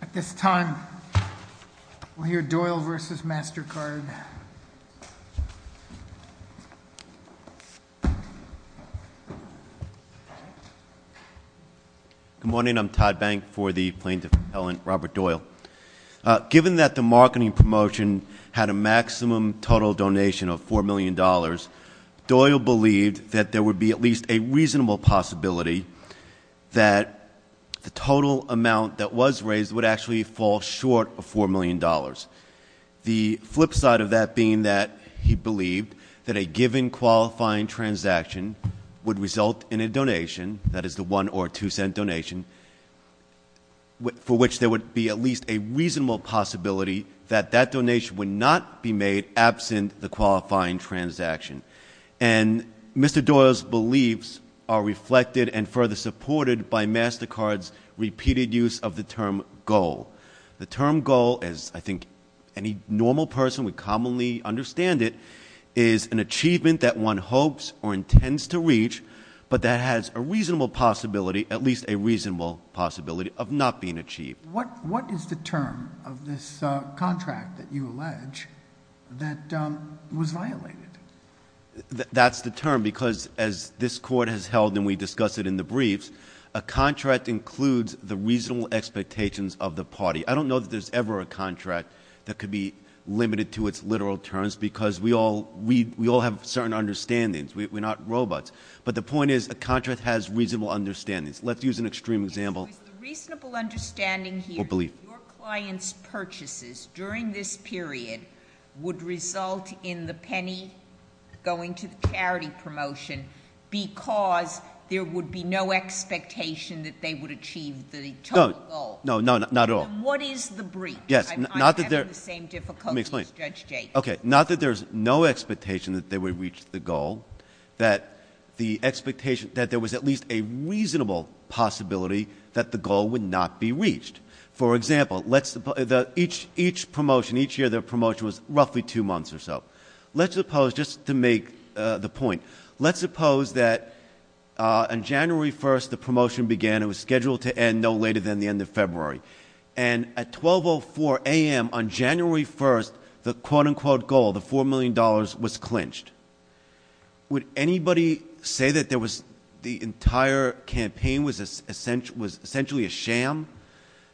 At this time, we'll hear Doyle v. Mastercard. Good morning. I'm Todd Bank for the plaintiff, Ellen Robert Doyle. Given that the marketing promotion had a maximum total donation of $4 million, Doyle believed that there would be at least a reasonable possibility that the total amount that was raised would actually fall short of $4 million. The flip side of that being that he believed that a given qualifying transaction would result in a donation, that is the one or two-cent donation, for which there would be at least a reasonable possibility that that donation would not be made absent the qualifying transaction. And Mr. Doyle's beliefs are reflected and further supported by Mastercard's repeated use of the term goal. The term goal, as I think any normal person would commonly understand it, is an achievement that one hopes or intends to reach but that has a reasonable possibility, at least a reasonable possibility, of not being achieved. What is the term of this contract that you allege that was violated? That's the term because as this Court has held and we discussed it in the briefs, a contract includes the reasonable expectations of the party. I don't know that there's ever a contract that could be limited to its literal terms because we all have certain understandings. We're not robots. But the point is a contract has reasonable understandings. Let's use an extreme example. So is the reasonable understanding here that your client's purchases during this period would result in the penny going to the charity promotion because there would be no expectation that they would achieve the total goal? No, not at all. Then what is the brief? I'm having the same difficulty as Judge Jacobs. Okay, not that there's no expectation that they would reach the goal, that there was at least a reasonable possibility that the goal would not be reached. For example, each promotion, each year their promotion was roughly two months or so. Let's suppose, just to make the point, let's suppose that on January 1st the promotion began. It was scheduled to end no later than the end of February. And at 12.04 a.m. on January 1st, the quote-unquote goal, the $4 million, was clinched. Would anybody say that the entire campaign was essentially a sham,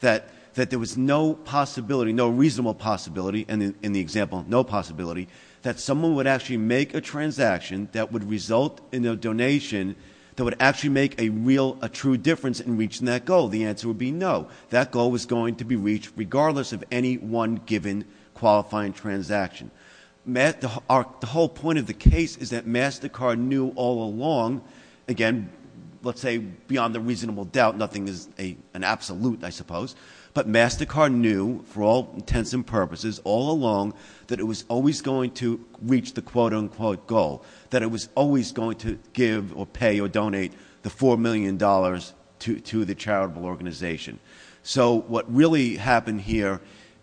that there was no possibility, no reasonable possibility, and in the example, no possibility, that someone would actually make a transaction that would result in a donation that would actually make a real, a true difference in reaching that goal? The answer would be no. That goal was going to be reached regardless of any one given qualifying transaction. The whole point of the case is that MasterCard knew all along, again, let's say beyond a reasonable doubt, nothing is an absolute, I suppose, but MasterCard knew for all intents and purposes all along that it was always going to reach the quote-unquote goal, that it was always going to give or pay or donate the $4 million to the charitable organization. So what really happened here,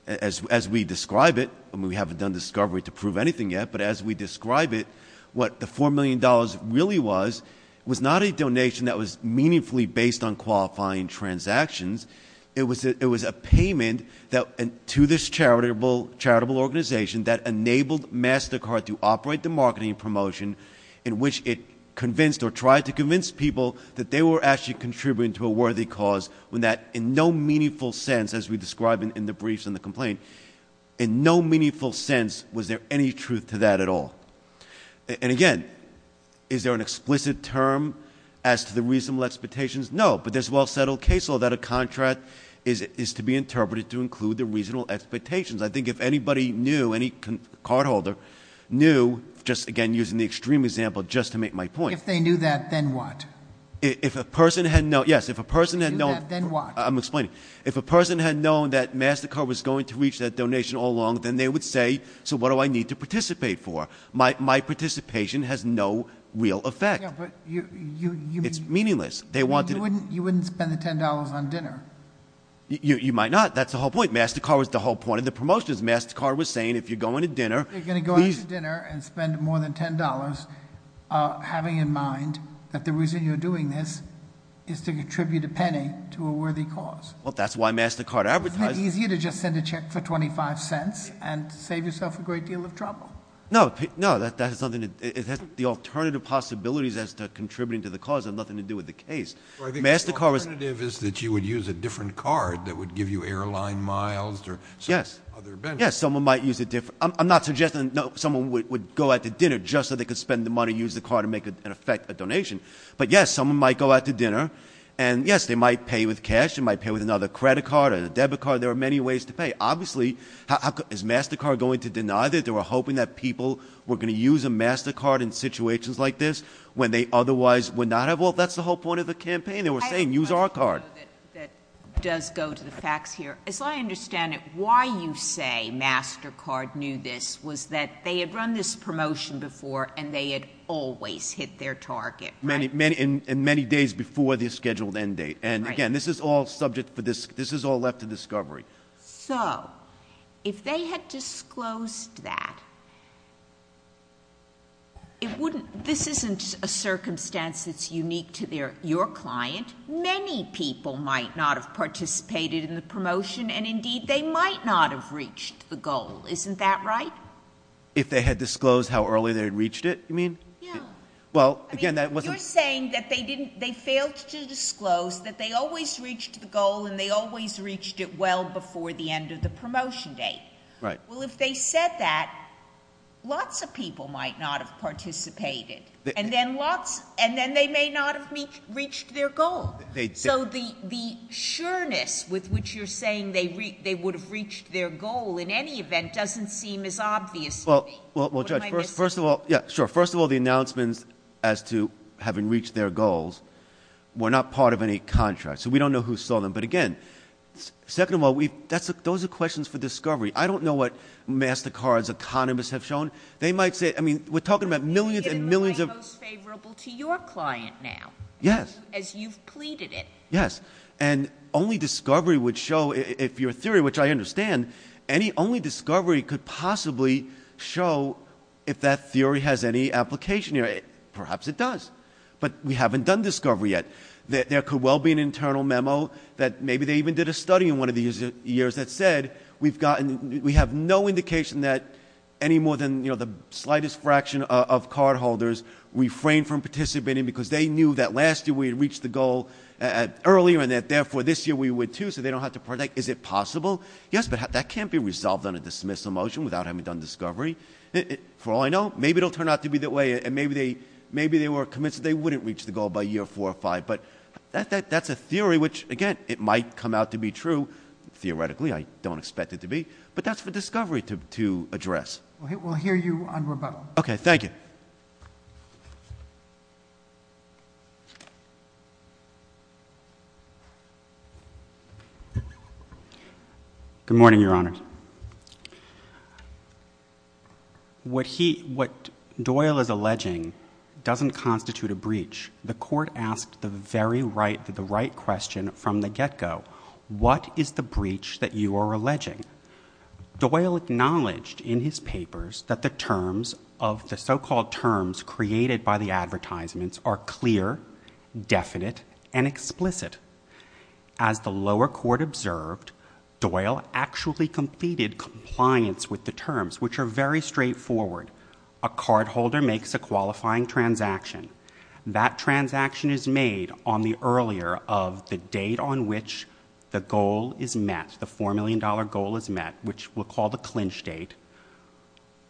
as we describe it, and we haven't done discovery to prove anything yet, but as we describe it, what the $4 million really was, was not a donation that was meaningfully based on qualifying transactions. It was a payment to this charitable organization that enabled MasterCard to operate the marketing promotion in which it convinced or tried to convince people that they were actually contributing to a worthy cause when that, in no meaningful sense, as we describe it in the briefs and the complaint, in no meaningful sense was there any truth to that at all. And again, is there an explicit term as to the reasonable expectations? No, but there's a well-settled case law that a contract is to be interpreted to include the reasonable expectations. I think if anybody knew, any cardholder knew, just again using the extreme example just to make my point- If they knew that, then what? If a person had known- If they knew that, then what? I'm explaining. If a person had known that MasterCard was going to reach that donation all along, then they would say, so what do I need to participate for? My participation has no real effect. Yeah, but you- It's meaningless. You wouldn't spend the $10 on dinner. You might not. That's the whole point. That's one of the promotions MasterCard was saying. If you're going to dinner, please- If you're going to go out to dinner and spend more than $10, having in mind that the reason you're doing this is to contribute a penny to a worthy cause. Well, that's why MasterCard advertised- Isn't it easier to just send a check for $0.25 and save yourself a great deal of trouble? No, that has nothing to- The alternative possibilities as to contributing to the cause have nothing to do with the case. MasterCard was- Yes, someone might use a different- I'm not suggesting that someone would go out to dinner just so they could spend the money, use the card, and make an effect, a donation. But, yes, someone might go out to dinner, and, yes, they might pay with cash. They might pay with another credit card or a debit card. There are many ways to pay. Obviously, is MasterCard going to deny that? They were hoping that people were going to use a MasterCard in situations like this when they otherwise would not have- Well, that's the whole point of the campaign. They were saying, use our card. I have a question for you that does go to the facts here. As I understand it, why you say MasterCard knew this was that they had run this promotion before and they had always hit their target, right? And many days before the scheduled end date. And, again, this is all left to discovery. So, if they had disclosed that, this isn't a circumstance that's unique to your client. Many people might not have participated in the promotion, and, indeed, they might not have reached the goal. Isn't that right? If they had disclosed how early they had reached it, you mean? Yeah. Well, again, that wasn't- You're saying that they failed to disclose that they always reached the goal, and they always reached it well before the end of the promotion date. Right. Well, if they said that, lots of people might not have participated. And then they may not have reached their goal. So the sureness with which you're saying they would have reached their goal in any event doesn't seem as obvious to me. Well, Judge, first of all- What am I missing? Yeah, sure. First of all, the announcements as to having reached their goals were not part of any contract. So we don't know who saw them. But, again, second of all, those are questions for discovery. I don't know what MasterCard's economists have shown. They might say- We're talking about millions and millions of- But you're getting away most favorable to your client now. Yes. As you've pleaded it. Yes. And only discovery would show, if your theory, which I understand, only discovery could possibly show if that theory has any application here. Perhaps it does. But we haven't done discovery yet. There could well be an internal memo that maybe they even did a study in one of the years that said we have no indication that any more than the slightest fraction of cardholders refrained from participating because they knew that last year we had reached the goal earlier and that, therefore, this year we would, too, so they don't have to partake. Is it possible? Yes, but that can't be resolved on a dismissal motion without having done discovery. For all I know, maybe it will turn out to be that way, and maybe they were convinced that they wouldn't reach the goal by year four or five. But that's a theory which, again, it might come out to be true. Theoretically, I don't expect it to be. But that's for discovery to address. We'll hear you on rebuttal. Okay. Thank you. Good morning, Your Honors. What Doyle is alleging doesn't constitute a breach. The court asked the very right, the right question from the get-go. What is the breach that you are alleging? Doyle acknowledged in his papers that the terms of the so-called terms created by the advertisements are clear, definite, and explicit. As the lower court observed, Doyle actually completed compliance with the terms, which are very straightforward. A cardholder makes a qualifying transaction. That transaction is made on the earlier of the date on which the goal is met, the $4 million goal is met, which we'll call the clinch date,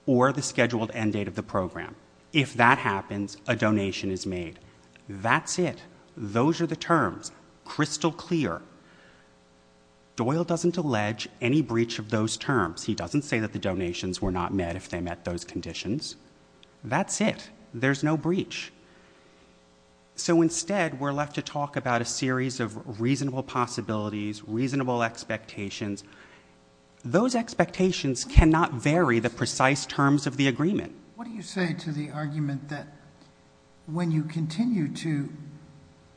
or the scheduled end date of the program. If that happens, a donation is made. That's it. Those are the terms, crystal clear. Doyle doesn't allege any breach of those terms. He doesn't say that the donations were not met if they met those conditions. That's it. There's no breach. So instead we're left to talk about a series of reasonable possibilities, reasonable expectations. Those expectations cannot vary the precise terms of the agreement. What do you say to the argument that when you continue to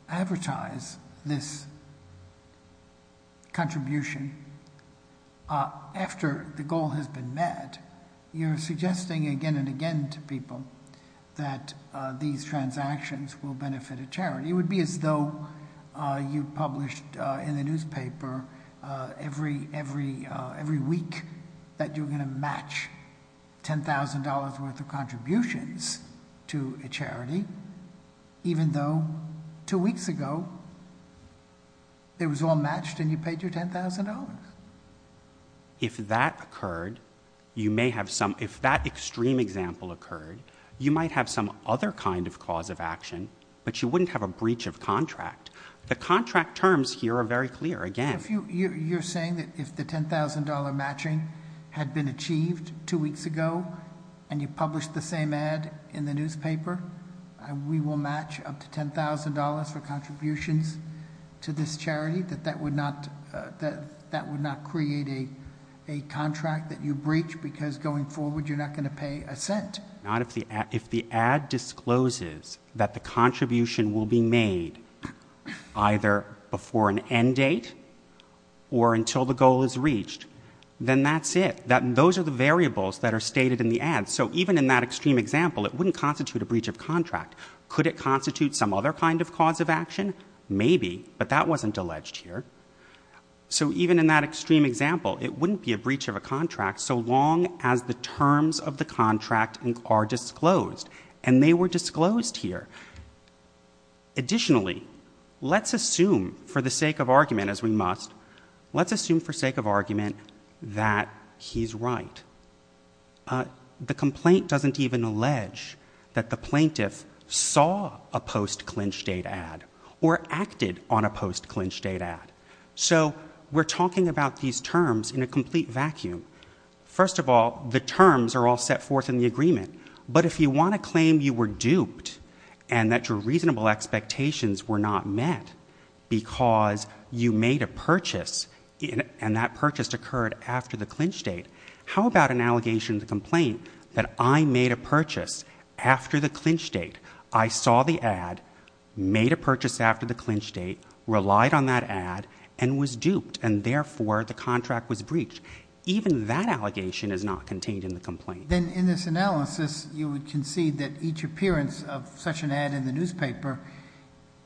advertise this contribution after the goal has been met, you're suggesting again and again to people that these transactions will benefit a charity? It would be as though you published in the newspaper every week that you're going to match $10,000 worth of contributions to a charity, even though two weeks ago it was all matched and you paid your $10,000. If that extreme example occurred, you might have some other kind of cause of action, but you wouldn't have a breach of contract. The contract terms here are very clear, again. You're saying that if the $10,000 matching had been achieved two weeks ago and you published the same ad in the newspaper, we will match up to $10,000 for contributions to this charity, that that would not create a contract that you breach because going forward you're not going to pay a cent. If the ad discloses that the contribution will be made either before an end date or until the goal is reached, then that's it. Those are the variables that are stated in the ad. So even in that extreme example, it wouldn't constitute a breach of contract. Could it constitute some other kind of cause of action? Maybe, but that wasn't alleged here. So even in that extreme example, it wouldn't be a breach of a contract so long as the terms of the contract are disclosed, and they were disclosed here. Additionally, let's assume for the sake of argument, as we must, let's assume for the sake of argument that he's right. The complaint doesn't even allege that the plaintiff saw a post-clinch date ad or acted on a post-clinch date ad. So we're talking about these terms in a complete vacuum. First of all, the terms are all set forth in the agreement, but if you want to claim you were duped and that your reasonable expectations were not met because you made a purchase and that purchase occurred after the clinch date, how about an allegation of the complaint that I made a purchase after the clinch date, I saw the ad, made a purchase after the clinch date, relied on that ad, and was duped, and therefore the contract was breached? Even that allegation is not contained in the complaint. Then in this analysis, you would concede that each appearance of such an ad in the newspaper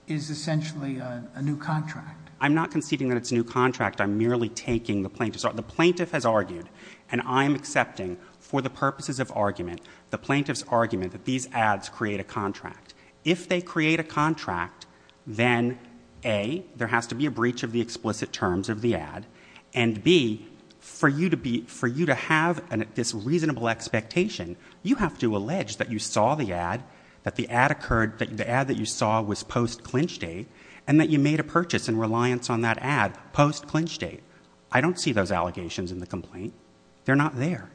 is essentially a new contract. I'm not conceding that it's a new contract. I'm merely taking the plaintiff's argument. The plaintiff has argued, and I'm accepting for the purposes of argument, the plaintiff's argument that these ads create a contract. If they create a contract, then A, there has to be a breach of the explicit terms of the ad, and B, for you to have this reasonable expectation, you have to allege that you saw the ad, that the ad that you saw was post-clinch date, and that you made a purchase in reliance on that ad post-clinch date. I don't see those allegations in the complaint. They're not there.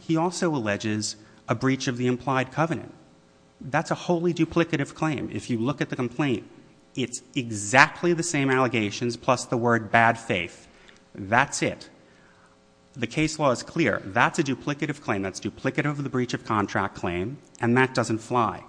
He also alleges a breach of the implied covenant. That's a wholly duplicative claim. If you look at the complaint, it's exactly the same allegations plus the word bad faith. That's it. The case law is clear. That's a duplicative claim. That's duplicative of the breach of contract claim, and that doesn't fly.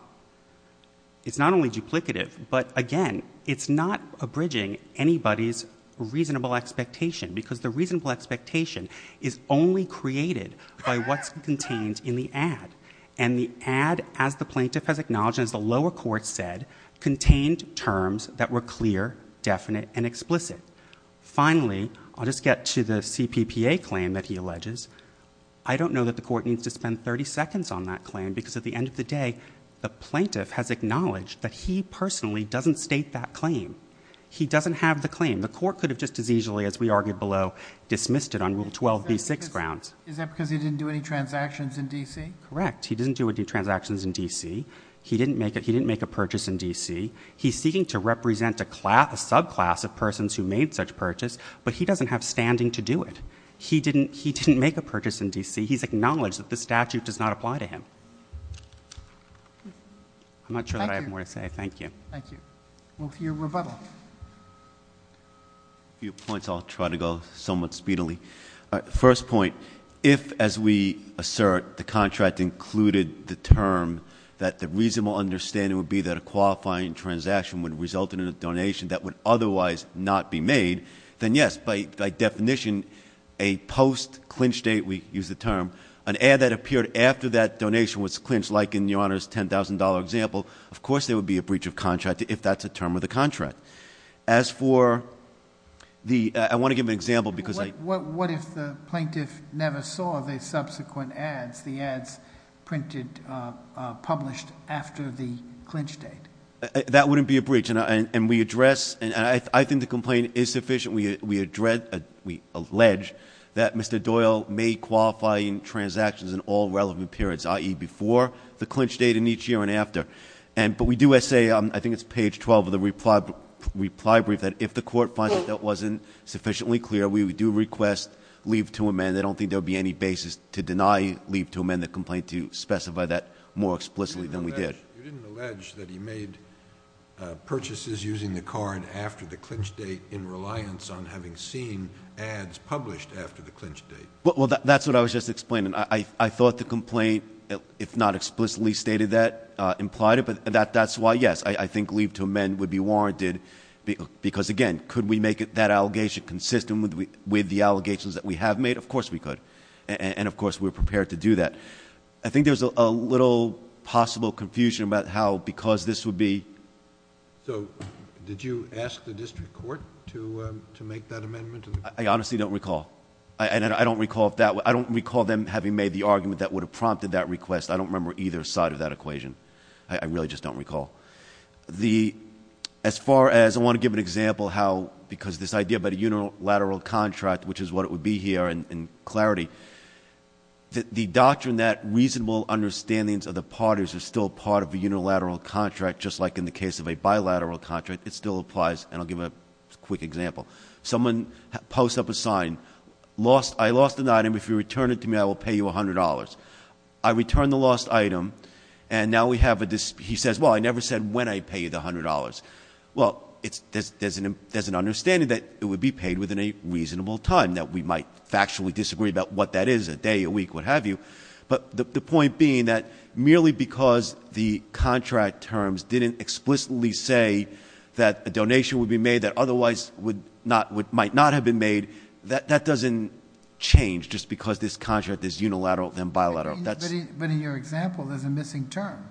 It's not only duplicative, but, again, it's not abridging anybody's reasonable expectation because the reasonable expectation is only created by what's contained in the ad, and the ad, as the plaintiff has acknowledged and as the lower court said, contained terms that were clear, definite, and explicit. Finally, I'll just get to the CPPA claim that he alleges. I don't know that the court needs to spend 30 seconds on that claim because, at the end of the day, the plaintiff has acknowledged that he personally doesn't state that claim. He doesn't have the claim. The court could have just as easily, as we argued below, dismissed it on Rule 12b-6 grounds. Is that because he didn't do any transactions in D.C.? Correct. He didn't do any transactions in D.C. He didn't make a purchase in D.C. He's seeking to represent a subclass of persons who made such purchase, but he doesn't have standing to do it. He didn't make a purchase in D.C. He's acknowledged that this statute does not apply to him. I'm not sure that I have more to say. Thank you. Thank you. We'll hear rebuttal. A few points. I'll try to go somewhat speedily. First point, if, as we assert, the contract included the term that the reasonable understanding would be that a qualifying transaction would result in a donation that would otherwise not be made, then, yes, by definition, a post-clinch date, we use the term, an ad that appeared after that donation was clinched, like in Your Honor's $10,000 example, of course there would be a breach of contract if that's a term of the contract. As for the ‑‑ I want to give an example. What if the plaintiff never saw the subsequent ads, the ads printed, published after the clinch date? That wouldn't be a breach. And we address, and I think the complaint is sufficient, we allege that Mr. Doyle made qualifying transactions in all relevant periods, i.e. before the clinch date and each year and after. But we do say, I think it's page 12 of the reply brief, that if the court finds that that wasn't sufficiently clear, we do request leave to amend. I don't think there would be any basis to deny leave to amend the complaint to specify that more explicitly than we did. You didn't allege that he made purchases using the card after the clinch date in reliance on having seen ads published after the clinch date. Well, that's what I was just explaining. I thought the complaint, if not explicitly stated that, implied it, but that's why, yes, I think leave to amend would be warranted because, again, could we make that allegation consistent with the allegations that we have made? Of course we could. And, of course, we're prepared to do that. I think there's a little possible confusion about how because this would be. So did you ask the district court to make that amendment? I honestly don't recall. I don't recall them having made the argument that would have prompted that request. I don't remember either side of that equation. I really just don't recall. As far as I want to give an example how because this idea about a unilateral contract, which is what it would be here in clarity, the doctrine that reasonable understandings of the parties are still part of a unilateral contract, just like in the case of a bilateral contract, it still applies. And I'll give a quick example. Someone posts up a sign, I lost an item. If you return it to me, I will pay you $100. I return the lost item, and now we have a dispute. He says, well, I never said when I'd pay you the $100. Well, there's an understanding that it would be paid within a reasonable time, that we might factually disagree about what that is, a day, a week, what have you. But the point being that merely because the contract terms didn't explicitly say that a donation would be made that otherwise might not have been made, that doesn't change just because this contract is unilateral than bilateral. But in your example, there's a missing term.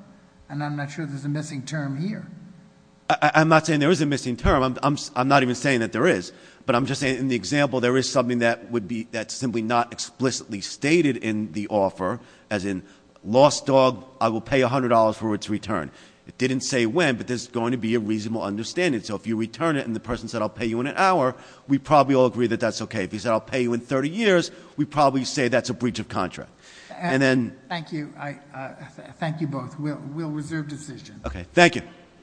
And I'm not sure there's a missing term here. I'm not saying there is a missing term. I'm not even saying that there is. But I'm just saying in the example, there is something that's simply not explicitly stated in the offer, as in lost dog, I will pay $100 for its return. It didn't say when, but there's going to be a reasonable understanding. So if you return it and the person said I'll pay you in an hour, we'd probably all agree that that's okay. If he said I'll pay you in 30 years, we'd probably say that's a breach of contract. And then- Thank you. Thank you both. We'll reserve decisions. Okay, thank you.